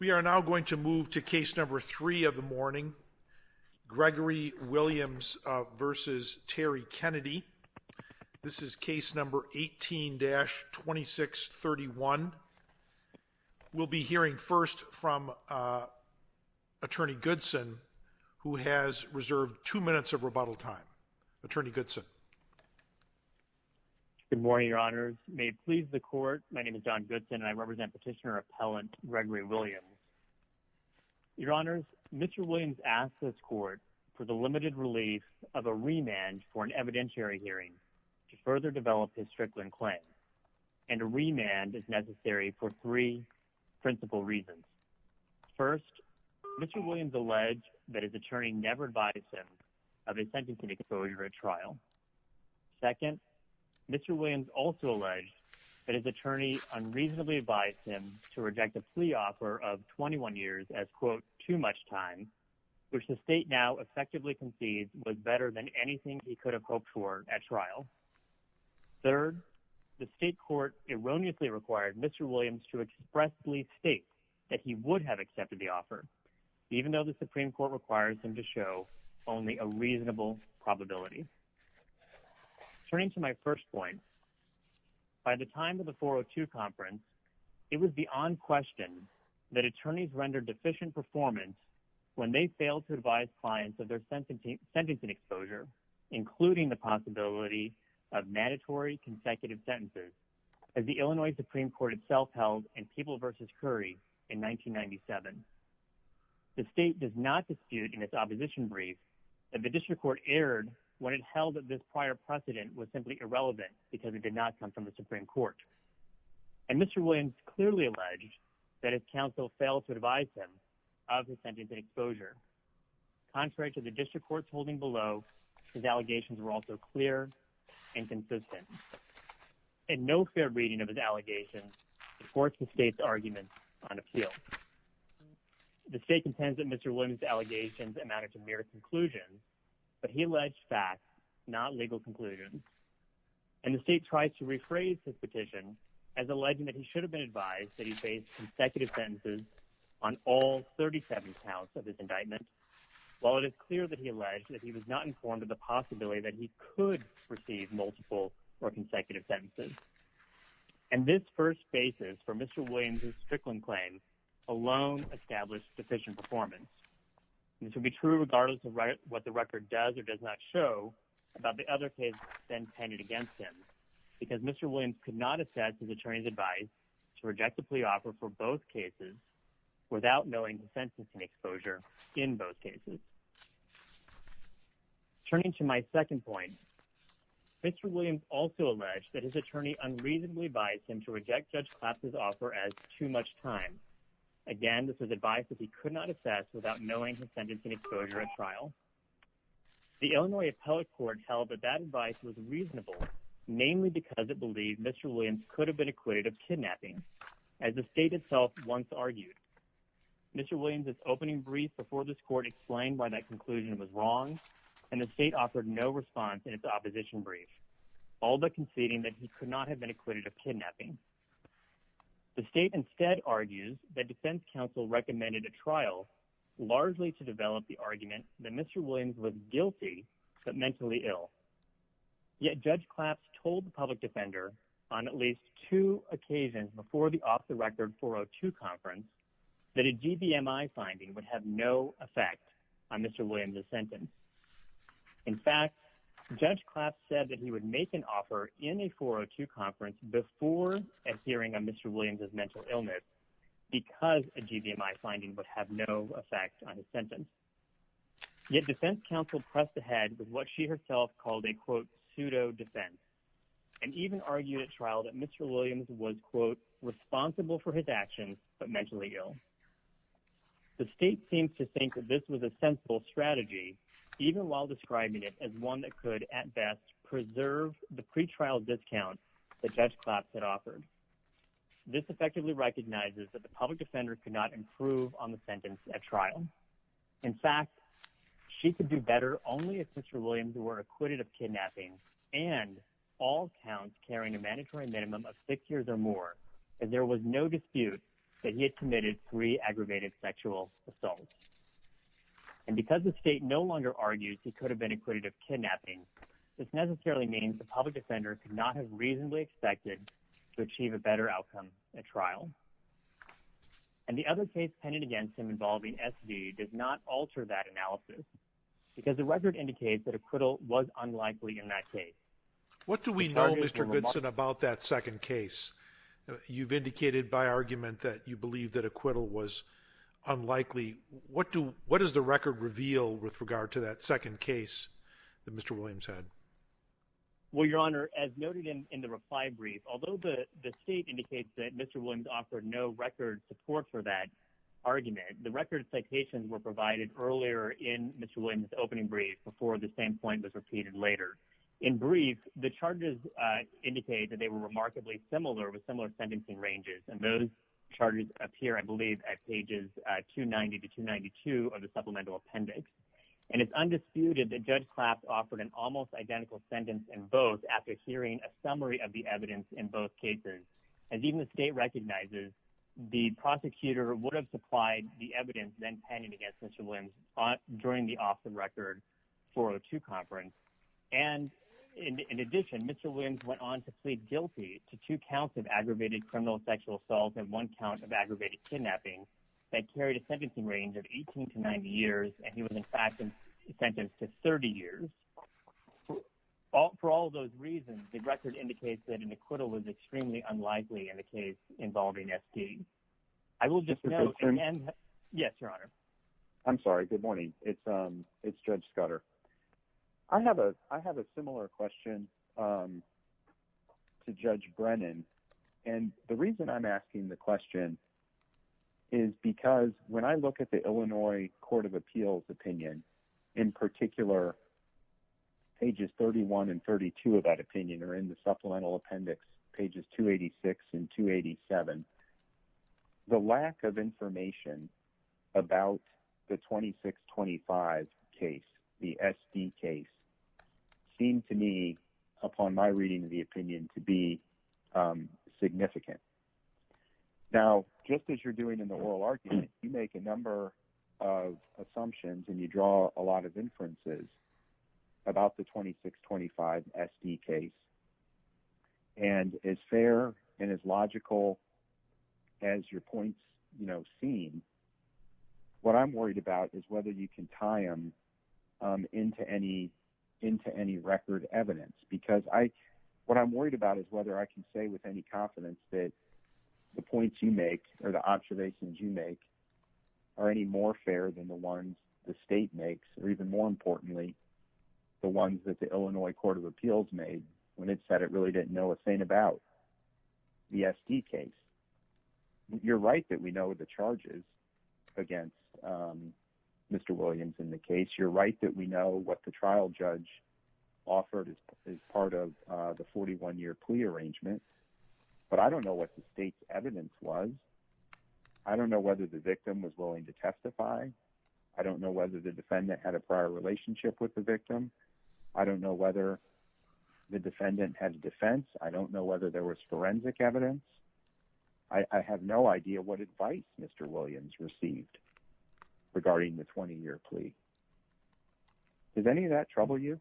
We are now going to move to case number three of the morning, Gregory Williams v. Terry Kennedy. This is case number 18-2631. We'll be hearing first from Attorney Goodson, who has reserved two minutes of rebuttal time. Attorney Goodson. Good morning, Your Honors. May it please the Court, my name is John Goodson and I represent Petitioner Appellant Gregory Williams. Your Honors, Mr. Williams asked this Court for the limited relief of a remand for an evidentiary hearing to further develop his Strickland claim, and a remand is necessary for three principal reasons. First, Mr. Williams alleged that his Second, Mr. Williams also alleged that his attorney unreasonably advised him to reject a plea offer of 21 years as, quote, too much time, which the state now effectively concedes was better than anything he could have hoped for at trial. Third, the state court erroneously required Mr. Williams to expressly state that he would have accepted the offer, even though the Turning to my first point, by the time of the 402 conference, it was beyond question that attorneys rendered deficient performance when they failed to advise clients of their sentencing exposure, including the possibility of mandatory consecutive sentences, as the Illinois Supreme Court itself held in People v. Curry in 1997. The state does not dispute in its opposition brief that the district court erred when it held that this prior precedent was simply irrelevant because it did not come from the Supreme Court, and Mr. Williams clearly alleged that his counsel failed to advise him of his sentencing exposure. Contrary to the district court's holding below, his allegations were also clear and consistent, and no fair reading of his allegations supports the state's argument on appeal. The state contends that Mr. Williams' allegations amounted to mere conclusions, but he alleged facts, not legal conclusions, and the state tries to rephrase his petition as alleging that he should have been advised that he faced consecutive sentences on all 37 counts of his indictment, while it is clear that he alleged that he was not informed of the possibility that he could receive multiple or consecutive sentences. And this first basis for Mr. Williams' Strickland claim alone established deficient performance. This would be true regardless of what the record does or does not show about the other case then penned against him, because Mr. Williams could not assess his attorney's advice to reject the plea offer for both cases without knowing the sentencing exposure in both cases. Turning to my second point, Mr. Williams also alleged that his attorney unreasonably advised him to reject Judge Claps's offer as too much time. Again, this was advice that he could not assess without knowing his sentencing exposure at trial. The Illinois Appellate Court held that that advice was reasonable, namely because it believed Mr. Williams could have been acquitted of kidnapping, as the state itself once argued. Mr. Williams' opening brief before this court explained why that conclusion was wrong, and the state offered no response in its opposition brief, all but conceding that he could not have been acquitted of kidnapping. The state instead argues that defense counsel recommended a trial largely to develop the argument that Mr. Williams was guilty but mentally ill. Yet Judge Claps told the public defender on at least two occasions before the off-the-record 402 conference that a GBMI finding would have no effect on Mr. Williams' sentence. In fact, Judge Claps said that he would make an offer in a 402 conference before a hearing on Mr. Williams' mental illness because a GBMI finding would have no effect on his sentence. Yet defense counsel pressed ahead with what she herself called a, quote, pseudo defense, and even argued at trial that Mr. Williams was, quote, responsible for his actions but mentally ill. The state seems to think that this was a sensible strategy, even while describing it as one that could at best preserve the pretrial discount that Judge Claps had offered. This effectively recognizes that the public defender could not improve on the sentence at trial. In fact, she could do better only if Mr. Williams were acquitted of kidnapping and all counts carrying a mandatory minimum of six years or more and there was no dispute that he had committed three aggravated sexual assaults. And because the state no longer argues he could have been acquitted of kidnapping, this necessarily means the public defender could not have reasonably expected to achieve a better outcome at trial. And the other case pending against him involving SV does not alter that analysis because the record indicates that acquittal was unlikely in that case. What do we know, Mr. Goodson, about that second case? You've indicated by argument that you believe that acquittal was unlikely. What do what does the record reveal with regard to that second case that Mr. Williams had? Well, Your Honor, as noted in the reply brief, although the state indicates that Mr. Williams offered no record support for that argument, the record citations were provided earlier in Mr. Williams opening brief before the same point was repeated later. In brief, the charges indicate that they were remarkably similar with similar sentencing ranges. And those charges appear, I believe, at pages 290 to 292 of the supplemental appendix. And it's undisputed that Judge Klapp offered an almost identical sentence in both after hearing a summary of the evidence in both cases. As even the state recognizes, the prosecutor would have supplied the evidence then pending against Mr. Williams during the off the record 402 conference. And in addition, Mr. Williams went on to plead guilty to two counts of aggravated criminal sexual assault and one count of aggravated kidnapping that carried a sentencing range of 18 to 90 years. And he was, in fact, sentenced to 30 years. For all those reasons, the record indicates that an acquittal was extremely unlikely in a case involving S.P. I will just know. Yes, Your Honor. I'm sorry. Good morning. It's Judge Scudder. I have a I have a similar question to Judge Brennan. And the reason I'm asking the question is because when I look at the Illinois Court of Appeals opinion, in particular, pages 31 and 32 of that opinion are in the supplemental appendix, pages 286 and 287. The lack of information about the 2625 case, the S.P. case, seemed to me, upon my reading of the opinion, to be significant. Now, just as you're doing in the oral argument, you make a number of assumptions and you draw a lot of inferences about the 2625 S.P. case. And as fair and as logical as your points seem, what I'm worried about is whether you can tie them into any into any record evidence, because I what I'm worried about is whether I can say with any confidence that the points you make or the observations you make are any more fair than the ones the state makes, or even more importantly, the ones that the Illinois Court of Appeals made when it said it really didn't know a thing about the S.P. case. You're right that we know the charges against Mr. Williams in the case. You're right that we know what the trial judge offered as part of the 41-year plea arrangement. But I don't know what the state's evidence was. I don't know whether the victim was willing to testify. I don't know whether the defendant had a prior relationship with the victim. I don't know whether the defendant had a defense. I don't know whether there was forensic evidence. I have no idea what advice Mr. Williams received regarding the 20-year plea. Does any of that trouble you?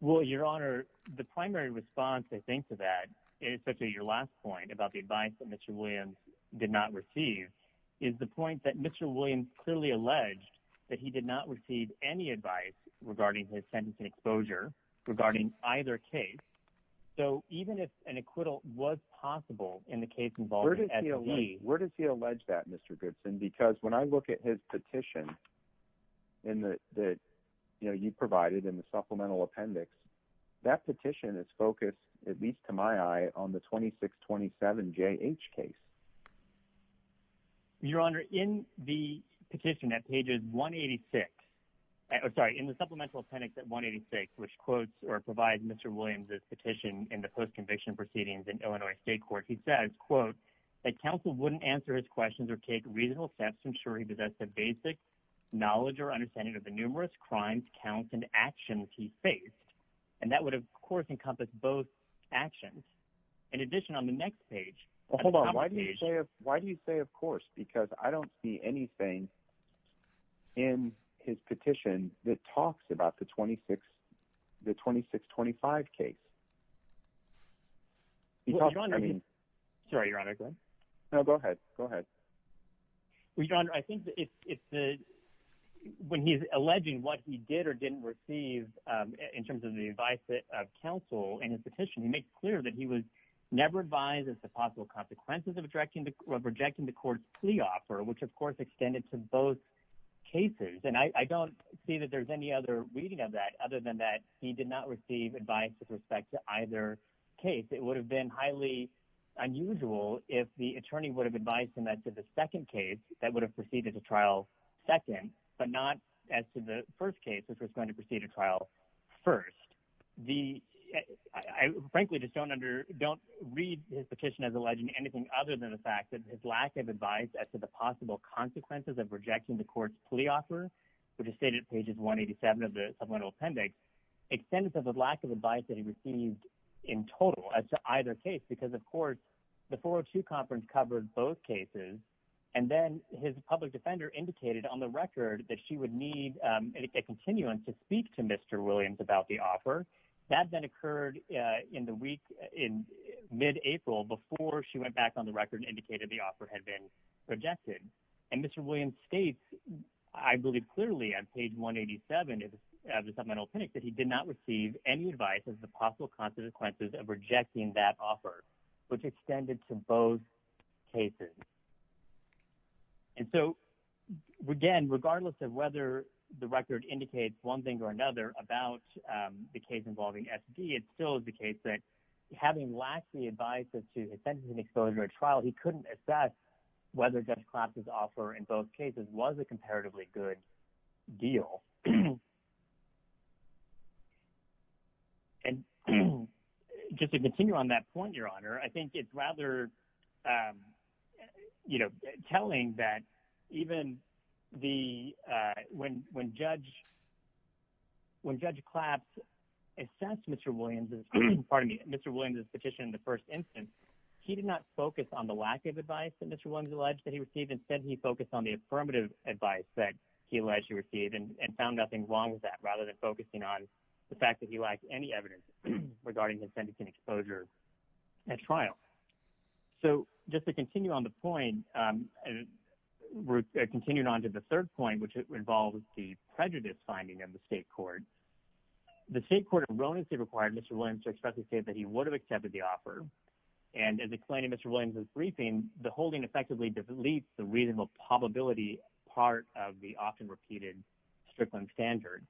Well, Your Honor, the primary response, I think, to that, especially your last point about the advice that Mr. Williams did not receive, is the point that Mr. Williams clearly alleged that he did not receive any advice regarding his sentencing exposure regarding either case. So even if an acquittal was possible in the case involving S.P. Where does he allege that, Mr. Gibson? Because when I look at his petition in the, you know, you provided in the supplemental appendix, that petition is focused, at least to my eye, on the 2627JH case. Well, Your Honor, in the petition at pages 186, sorry, in the supplemental appendix at 186, which quotes or provides Mr. Williams' petition in the post-conviction proceedings in Illinois State Court, he says, quote, that counsel wouldn't answer his questions or take reasonable steps to ensure he possessed the basic knowledge or understanding of the numerous crimes, counts, and actions he faced. And that would, of course, encompass both actions. In addition, on the next page. Hold on. Why do you say of course? Because I don't see anything in his petition that talks about the 2625 case. Because, I mean. Sorry, Your Honor. Go ahead. No, go ahead. Go ahead. Well, Your Honor, I think it's the, when he's alleging what he did or didn't receive in terms of the advice of counsel in his petition, he makes clear that he would of rejecting the court's plea offer, which of course extended to both cases. And I don't see that there's any other reading of that other than that he did not receive advice with respect to either case. It would have been highly unusual if the attorney would have advised him that to the second case, that would have proceeded to trial second, but not as to the first case, which was going to proceed to trial first. The, I frankly just don't under, don't read his petition as alleging anything other than the fact that his lack of advice as to the possible consequences of rejecting the court's plea offer, which is stated at pages 187 of the supplemental appendix, extended to the lack of advice that he received in total as to either case. Because of course, the 402 conference covered both cases. And then his public defender indicated on the record that she would need a continuance to speak to Mr. Williams about the offer. That then occurred in the week in mid-April before she went back on the record and indicated the offer had been rejected. And Mr. Williams states, I believe clearly on page 187 of the supplemental appendix that he did not receive any advice as the possible consequences of rejecting that offer, which extended to both cases. And so again, regardless of whether the record indicates one thing or another about the case involving SD, it still is the case that having lacked the advice as to his sentencing exposure at trial, he couldn't assess whether Judge Claps's offer in both cases was a comparatively good deal. And just to continue on that point, Your Honor, I think it's rather, you know, telling that even when Judge Claps assessed Mr. Williams's, pardon me, Mr. Williams's petition in the first instance, he did not focus on the lack of advice that Mr. Williams alleged that he received. Instead, he focused on the affirmative advice that he alleged he received and found nothing wrong with that, rather than focusing on the fact that he lacked any evidence regarding his sentencing exposure at trial. So just to continue on the point, and we're continuing on to the third point, which involves the prejudice finding of the state court. The state court erroneously required Mr. Williams to expressly state that he would have accepted the offer. And as explained in Mr. Williams's briefing, the holding effectively deletes the reasonable probability part of the often repeated Strickland standard.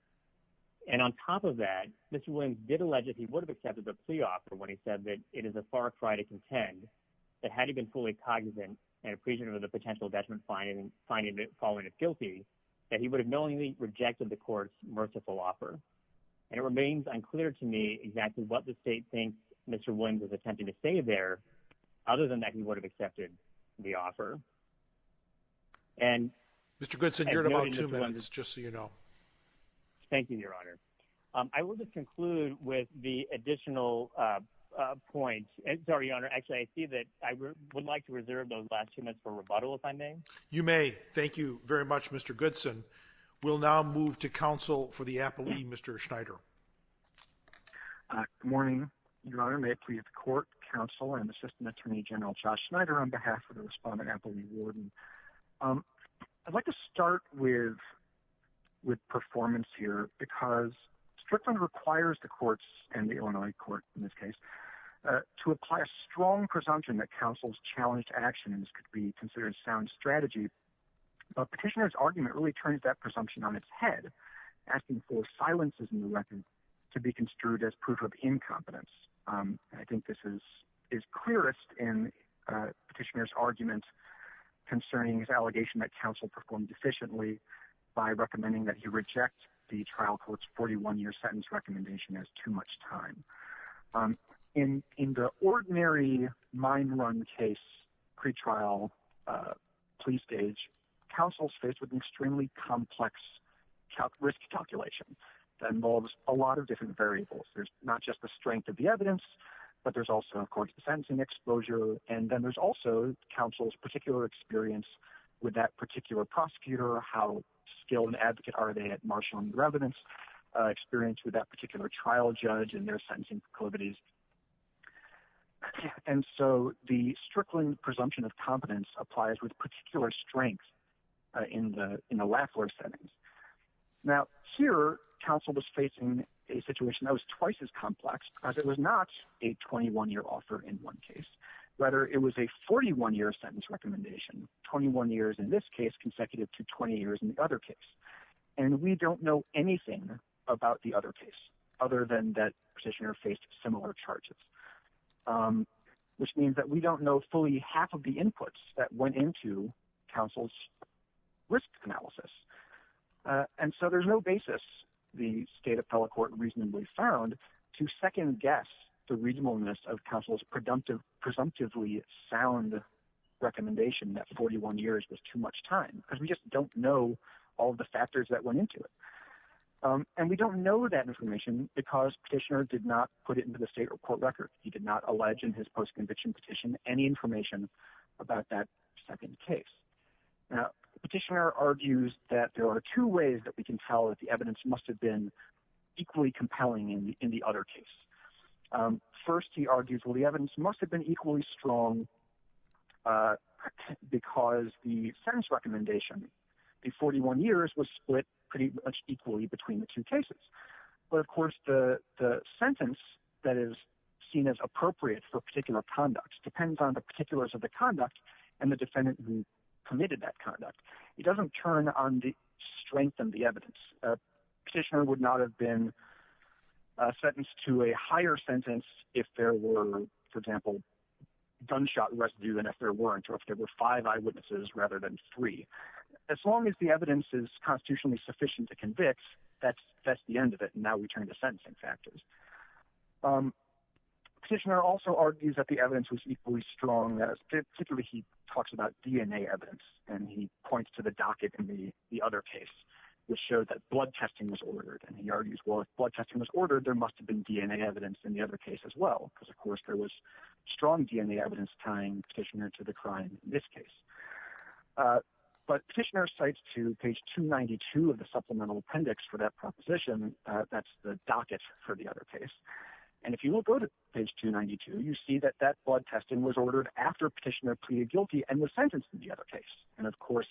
And on top of that, Mr. Williams did allege that he would have accepted the plea offer when he said that it is a far cry to contend that had he been fully cognizant and appreciative of the potential detriment finding following a guilty, that he would have knowingly rejected the court's merciful offer. And it remains unclear to me exactly what the state thinks Mr. Williams is attempting to say there, other than that he would have accepted the offer. And... Mr. Goodson, you're in about two minutes, just so you know. Thank you, Your Honor. I will just conclude with the additional points. Sorry, Your Honor, actually, I see that I would like to reserve those last two minutes for rebuttal, if I may. You may. Thank you very much, Mr. Goodson. We'll now move to counsel for the appellee, Mr. Schneider. Good morning, Your Honor. May it please the court, counsel, and Assistant Attorney General Josh Schneider on behalf of the Respondent Appellee Warden. I'd like to start with performance here, because Strickland requires the courts, and the Illinois court in this case, to apply a strong presumption that counsel's challenged actions could be considered sound strategy. But Petitioner's argument really turns that presumption on its head, asking for silences in the record to be construed as proof of incompetence. I think this is clearest in Petitioner's argument concerning his allegation that counsel performed efficiently by recommending that he reject the trial court's 41-year sentence recommendation as too much time. In the ordinary mine run case pretrial plea stage, counsel's faced with an extremely complex risk calculation that involves a lot of different variables. There's not just the strength of the exposure, and then there's also counsel's particular experience with that particular prosecutor, how skilled an advocate are they at marshaling the evidence, experience with that particular trial judge and their sentencing proclivities. And so the Strickland presumption of competence applies with particular strength in the in the Lafleur settings. Now here, counsel was facing a situation that was twice as complex because it was not a 21-year offer in one case, rather it was a 41-year sentence recommendation, 21 years in this case consecutive to 20 years in the other case. And we don't know anything about the other case other than that Petitioner faced similar charges, which means that we don't know fully half of the inputs that went into counsel's risk analysis. And so there's no basis, the State Appellate Court reasonably found, to second-guess the reasonableness of counsel's presumptively sound recommendation that 41 years was too much time, because we just don't know all the factors that went into it. And we don't know that information because Petitioner did not put it into the state report record. He did not allege in his post-conviction petition any information about that second case. Now Petitioner argues that there are two ways that we can tell that the evidence must have been equally compelling in the other case. First, he argues, well, the evidence must have been equally strong because the sentence recommendation, the 41 years, was split pretty much equally between the two cases. But of course, the sentence that is seen as appropriate for particular conduct depends on the particulars of the conduct and the defendant who committed that conduct. It doesn't turn on the strength and the evidence. Petitioner would not have been sentenced to a higher sentence if there were, for example, gunshot residue than if there weren't, or if there were five eyewitnesses rather than three. As long as the evidence is constitutionally sufficient to convict, that's the end of it, and now we turn to sentencing factors. Petitioner also argues that the evidence was equally strong, particularly he talks about DNA evidence, and he points to the docket in the other case, which showed that blood testing was ordered, and he argues, well, if blood testing was ordered, there must have been DNA evidence in the other case as well, because of course there was strong DNA evidence tying Petitioner to the crime in this case. But Petitioner cites to page 292 of the supplemental appendix for that proposition, that's the docket for the other case, and if you will go to page 292, you see that that blood testing was ordered after Petitioner pleaded guilty and was sentenced in the other case, and of course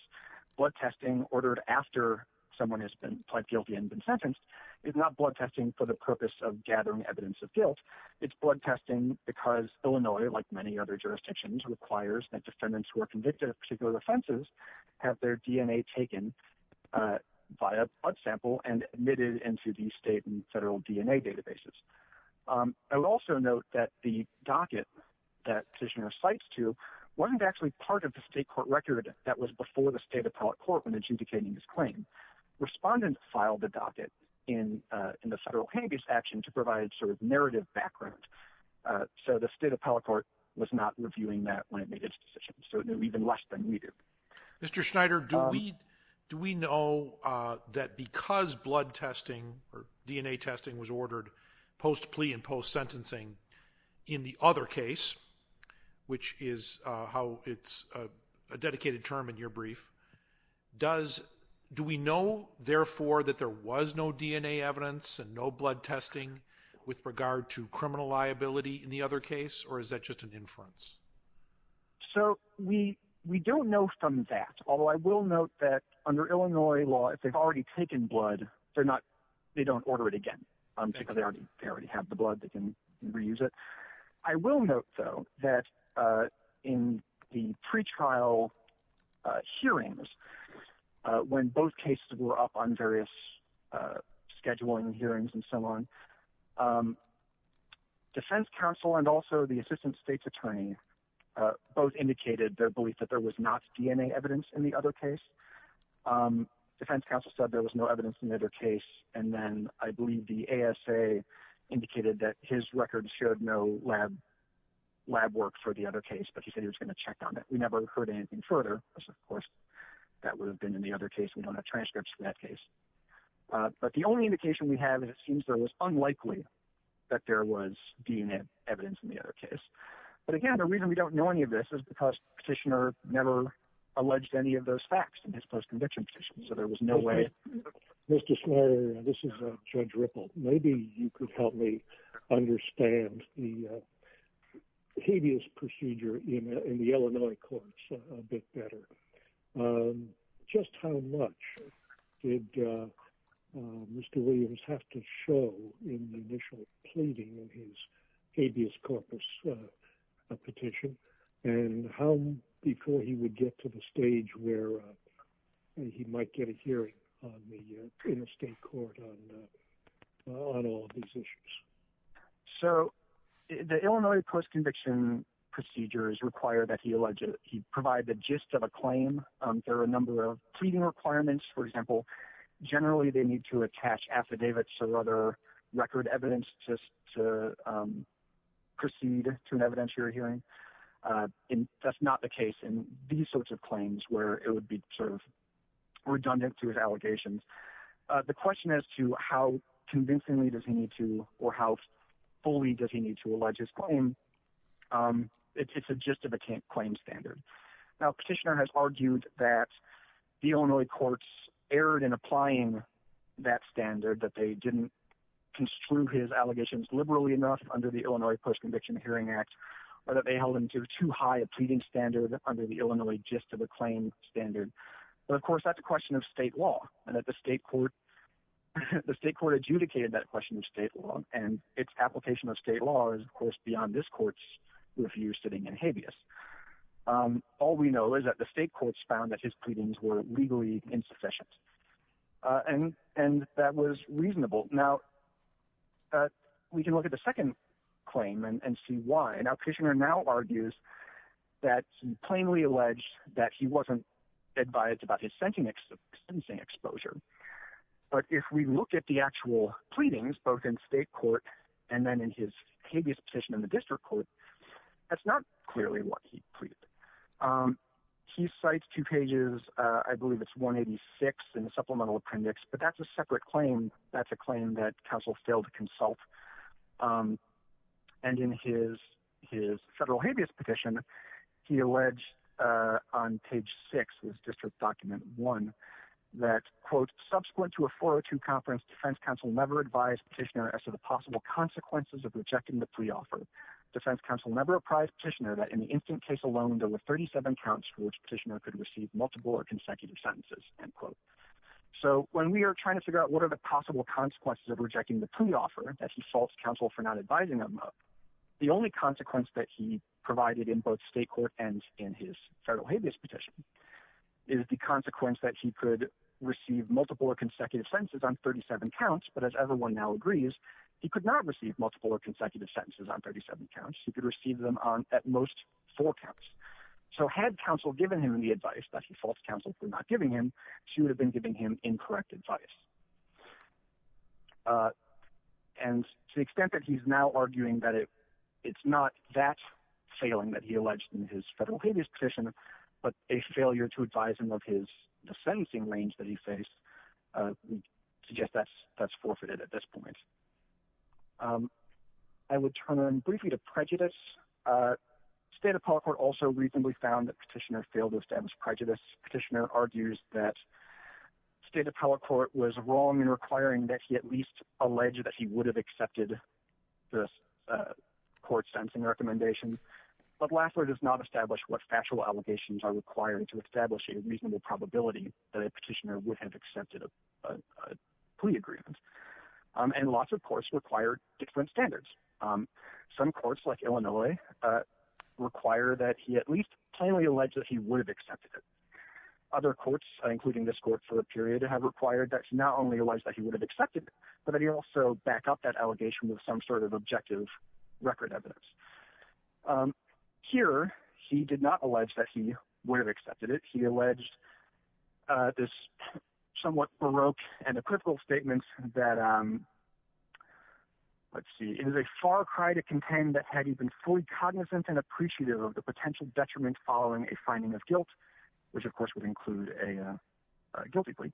blood testing ordered after someone has pleaded guilty and been sentenced is not blood testing for the purpose of gathering evidence of guilt. It's blood testing because Illinois, like many other jurisdictions, requires that defendants who are convicted of particular state and federal DNA databases. I would also note that the docket that Petitioner cites to wasn't actually part of the state court record that was before the state appellate court when adjudicating his claim. Respondents filed the docket in the federal hand-based action to provide sort of narrative background, so the state appellate court was not reviewing that when it made its decision, so it knew even less than we do. Mr. Schneider, do we know that because blood testing or DNA testing was ordered post plea and post sentencing in the other case, which is how it's a dedicated term in your brief, do we know therefore that there was no DNA evidence and no blood testing with regard to criminal liability in the other case, or is that just an inference? So we don't know from that, although I will note that under Illinois law, if they've already taken blood, they don't order it again because they already have the blood, they can reuse it. I will note, though, that in the pretrial hearings, when both cases were up on various scheduling hearings and so on, defense counsel and also the assistant state's attorney both indicated their belief that there was not DNA evidence in the other case. Defense counsel said there was no evidence in the other case, and then I believe the ASA indicated that his records showed no lab work for the other case, but he said he was going to check on it. We never heard anything further, of course, that would have been in the other case. We don't have transcripts from that case, but the only indication we have is it seems there was unlikely that there was DNA evidence in the other case, but again, the reason we don't know any of this is because the petitioner never alleged any of those facts in his post-conviction petition, so there was no way. Mr. Smiley, this is Judge Ripple. Maybe you could help me understand the habeas procedure in the Illinois courts a bit better. Just how much did Mr. Williams have to in the initial pleading in his habeas corpus petition, and how before he would get to the stage where he might get a hearing on the interstate court on all of these issues? So, the Illinois post-conviction procedures require that he provide the gist of a claim. There are a number of pleading requirements, for example. Generally, they need to attach affidavits or other record evidence just to proceed to an evidentiary hearing, and that's not the case in these sorts of claims where it would be sort of redundant to his allegations. The question as to how convincingly does he need to or how fully does he need to allege his claim, it's a gist of a claim standard. Now, petitioner has argued that the Illinois courts erred in applying that standard, that they didn't construe his allegations liberally enough under the Illinois Post-Conviction Hearing Act, or that they held him to too high a pleading standard under the Illinois gist of a claim standard. But, of course, that's a question of state law, and that the state court adjudicated that question of state law, and its application of state law is, of course, beyond this court's review sitting in habeas. All we know is that the state courts found that his pleadings were legally insufficient, and that was reasonable. Now, we can look at the second claim and see why. Now, petitioner now argues that he plainly alleged that he wasn't advised about his sentencing exposure, but if we look at the actual pleadings, both in state court and then in his habeas petition in the district court, that's not clearly what he pleaded. He cites two pages, I believe it's 186 in the supplemental appendix, but that's a separate claim. That's a claim that counsel failed to consult, and in his federal habeas petition, he alleged on page six of his district document one that, quote, subsequent to a 402 conference, defense counsel never advised petitioner as to the possible consequences of rejecting the pre-offer. Defense counsel never apprised petitioner that in the instant case alone, there were 37 counts for which petitioner could receive multiple or consecutive sentences, end quote. So when we are trying to figure out what are the possible consequences of rejecting the pre-offer that he faults counsel for not advising him of, the only consequence that he provided in both state court and in his federal habeas petition is the consequence that he could receive multiple or consecutive sentences on 37 counts, but as everyone now agrees, he could not receive multiple or consecutive sentences on 37 counts. He could receive them on at most four counts. So had counsel given him the advice that he faults counsel for not giving him, she would have been giving him incorrect advice. And to the extent that he's now arguing that it's not that failing that he alleged in his federal habeas petition, but a failure to advise him of his sentencing range that he faced, we suggest that's forfeited at this point. I would turn briefly to prejudice. State appellate court also reasonably found that petitioner failed to establish prejudice. Petitioner argues that state appellate court was wrong in requiring that he at least alleged that he would have accepted this court-sensing recommendation, but Lassler does not establish what factual allegations are requiring to establish a required different standards. Some courts like Illinois require that he at least plainly allege that he would have accepted it. Other courts, including this court for a period, have required that he not only allege that he would have accepted it, but that he also back up that allegation with some sort of objective record evidence. Here, he did not allege that he would have accepted it. He alleged this somewhat baroque and equivocal statement that, let's see, it is a far cry to contend that had he been fully cognizant and appreciative of the potential detriment following a finding of guilt, which of course would include a guilty plea,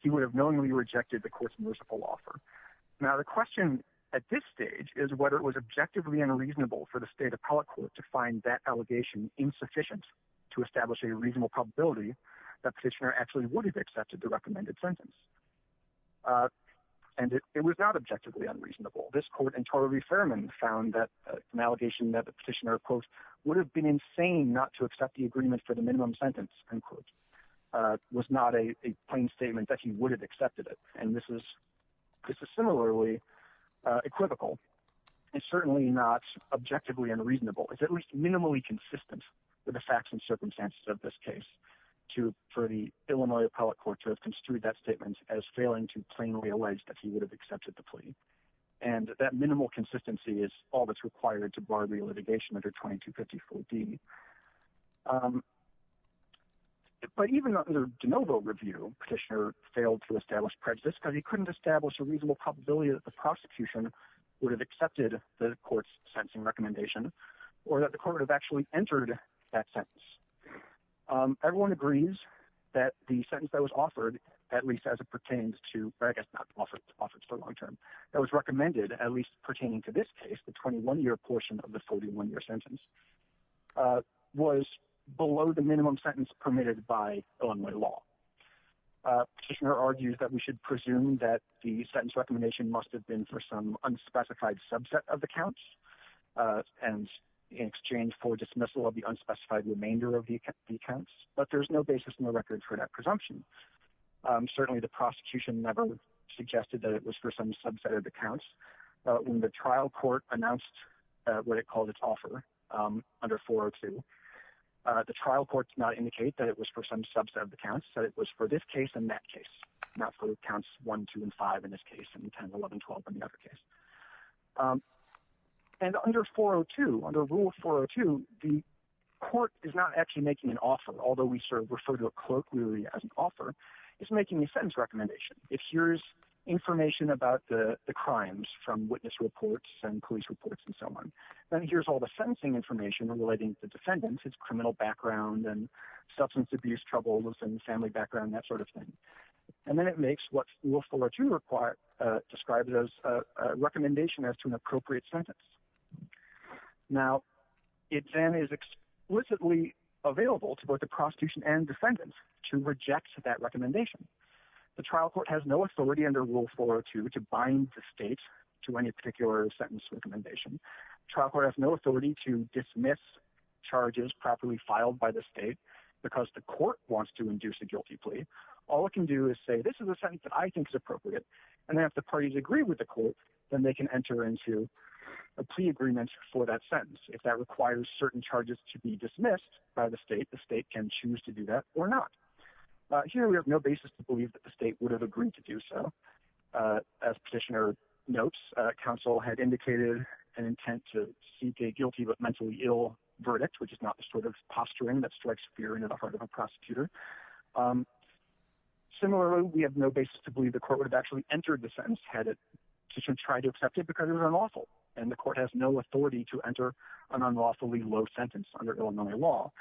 he would have knowingly rejected the court's merciful offer. Now, the question at this stage is whether it was objectively unreasonable for the state appellate court to find that allegation insufficient to reasonable probability that petitioner actually would have accepted the recommended sentence. And it was not objectively unreasonable. This court in Torrey-Ferman found that an allegation that the petitioner, quote, would have been insane not to accept the agreement for the minimum sentence, end quote, was not a plain statement that he would have accepted it. And this is similarly equivocal and certainly not objectively unreasonable. It's at least to for the Illinois appellate court to have construed that statement as failing to plainly allege that he would have accepted the plea. And that minimal consistency is all that's required to bar the litigation under 2254D. But even under DeNovo review, petitioner failed to establish prejudice because he couldn't establish a reasonable probability that the prosecution would have accepted the court's sentencing recommendation or that the court would have entered that sentence. Everyone agrees that the sentence that was offered, at least as it pertains to, I guess not offered for long term, that was recommended, at least pertaining to this case, the 21-year portion of the 41-year sentence, was below the minimum sentence permitted by Illinois law. Petitioner argues that we should presume that the sentence recommendation must have been for some unspecified subset of the counts and in exchange for dismissal of the unspecified remainder of the accounts. But there's no basis in the record for that presumption. Certainly the prosecution never suggested that it was for some subset of the counts. When the trial court announced what it called its offer under 402, the trial court did not indicate that it was for some subset of the counts, said it was for this case and that case, not for counts 1, 2, and 5 in this case and 10, 11, 12 in the other case. And under 402, under rule 402, the court is not actually making an offer, although we sort of refer to a clerk really as an offer, it's making a sentence recommendation. If here's information about the crimes from witness reports and police reports and so on, then here's all the sentencing information relating to defendants, its criminal background and substance abuse troubles and family background, that sort of thing. And then it makes what rule 402 describes as a recommendation as to an appropriate sentence. Now, it then is explicitly available to both the prosecution and defendants to reject that recommendation. The trial court has no authority under rule 402 to bind the state to any particular sentence recommendation. Trial court has no authority to dismiss charges properly filed by the state because the court wants to induce a guilty plea. All it can do is say, this is a sentence that I think is appropriate. And then if the parties agree with the court, then they can enter into a plea agreement for that sentence. If that requires certain charges to be dismissed by the state, the state can choose to do that or not. Here, we have no basis to believe that the state would have agreed to do so. As petitioner notes, counsel had indicated an intent to seek a guilty but mentally ill verdict, which is not the sort of posturing that strikes fear in the heart of a prosecutor. Similarly, we have no basis to believe the court would have actually entered the sentence had it petitioner tried to accept it because it was unlawful. And the court has no authority to enter an unlawfully low sentence under Illinois law.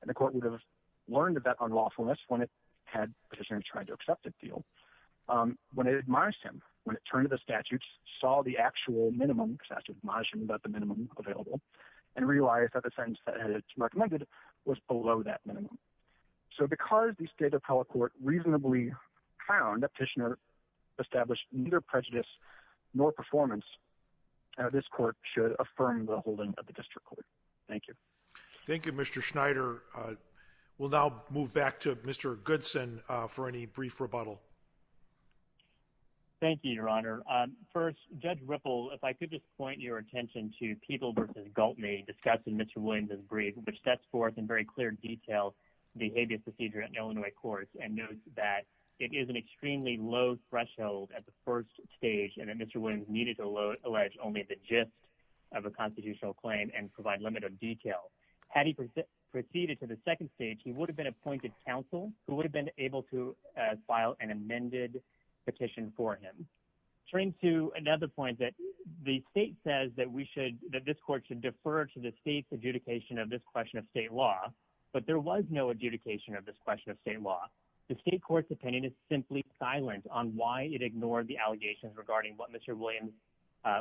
And the court would have learned about unlawfulness when it had petitioner tried to accept it deal. When it admires him, when it turned to the statutes, saw the actual minimum excessive margin, but the minimum available and realized that the sentence that it recommended was below that minimum. So because the state of power court reasonably found that petitioner established neither prejudice nor performance, this court should affirm the holding of the district court. Thank you. Thank you, Mr. Schneider. We'll now move back to Mr. Goodson for any brief rebuttal. Thank you, Your Honor. First, Judge Ripple, if I could just point your attention to People v. Galtney discussing Mr. Williams' brief, which sets forth in very clear detail the habeas procedure at an Illinois court and notes that it is an extremely low threshold at the first stage and that Mr. Williams needed to allege only the gist of a constitutional claim and provide limited detail. Had he proceeded to the second stage, he would have been appointed counsel who would have been able to file an amended petition for him. Turning to another point that the state says that we should, that this court should defer to the state's adjudication of this question of state law, but there was no adjudication of this question of state law. The state court's opinion is simply silent on why it ignored the allegations regarding what Mr. Williams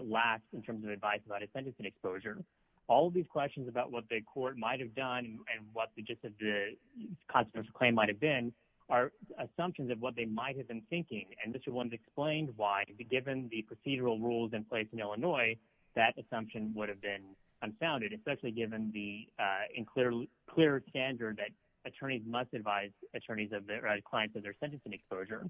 lacked in terms of advice about his sentencing exposure. All of these questions about what the court might have done and what the gist of the constitutional claim might have been are assumptions of what they might have been thinking, and Mr. Williams explained why, given the procedural rules in place in Illinois, that assumption would have been unfounded, especially given the unclear standard that attorneys must advise attorneys of their clients of their sentencing exposure.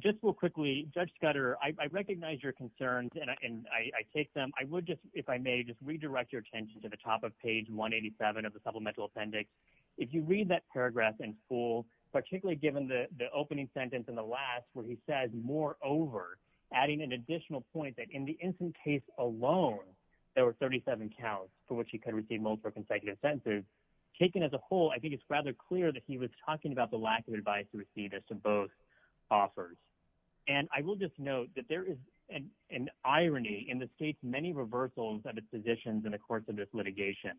Just real quickly, Judge Scudder, I recognize your concerns and I take them. I would just, if I may, just redirect your attention to the top of page 187 of the supplemental appendix. If you read that paragraph in full, particularly given the opening sentence in the last where he says, moreover, adding an additional point that in the instant case alone, there were 37 counts for which he could receive multiple consecutive sentences, taken as a whole, I think it's rather clear that he was talking about the lack of advice received as to both offers. And I will just note that there is an irony in this case, many reversals of its positions in the course of this litigation.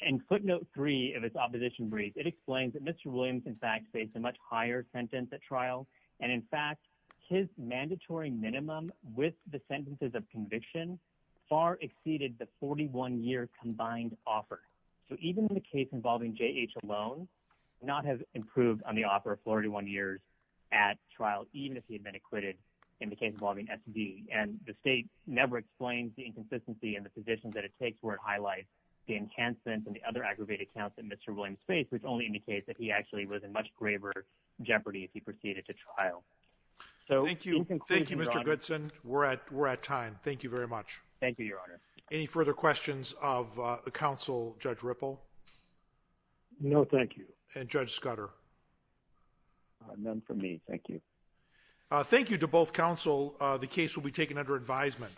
And footnote three of its opposition brief, it explains that Mr. Williams, in fact, faced a much higher sentence at trial, and in fact, his mandatory minimum with the sentences of conviction far exceeded the 41-year combined offer. So even in the case involving J.H. alone, not have improved on the offer of 41 years at trial, even if he had been acquitted in the case involving S.D. And the state never explains the inconsistency in the positions that it takes where it highlights the enhancements and the other aggravated counts that Mr. Williams faced, which only indicates that he actually was in much graver jeopardy if he proceeded to trial. So in conclusion, Your Honor. Thank you, Mr. Goodson. We're at time. Thank you very much. Thank you, Your Honor. Any further questions of the counsel, Judge Ripple? No, thank you. And Judge Scudder? None for me. Thank you. Thank you to both counsel. The case will be taken under advisement.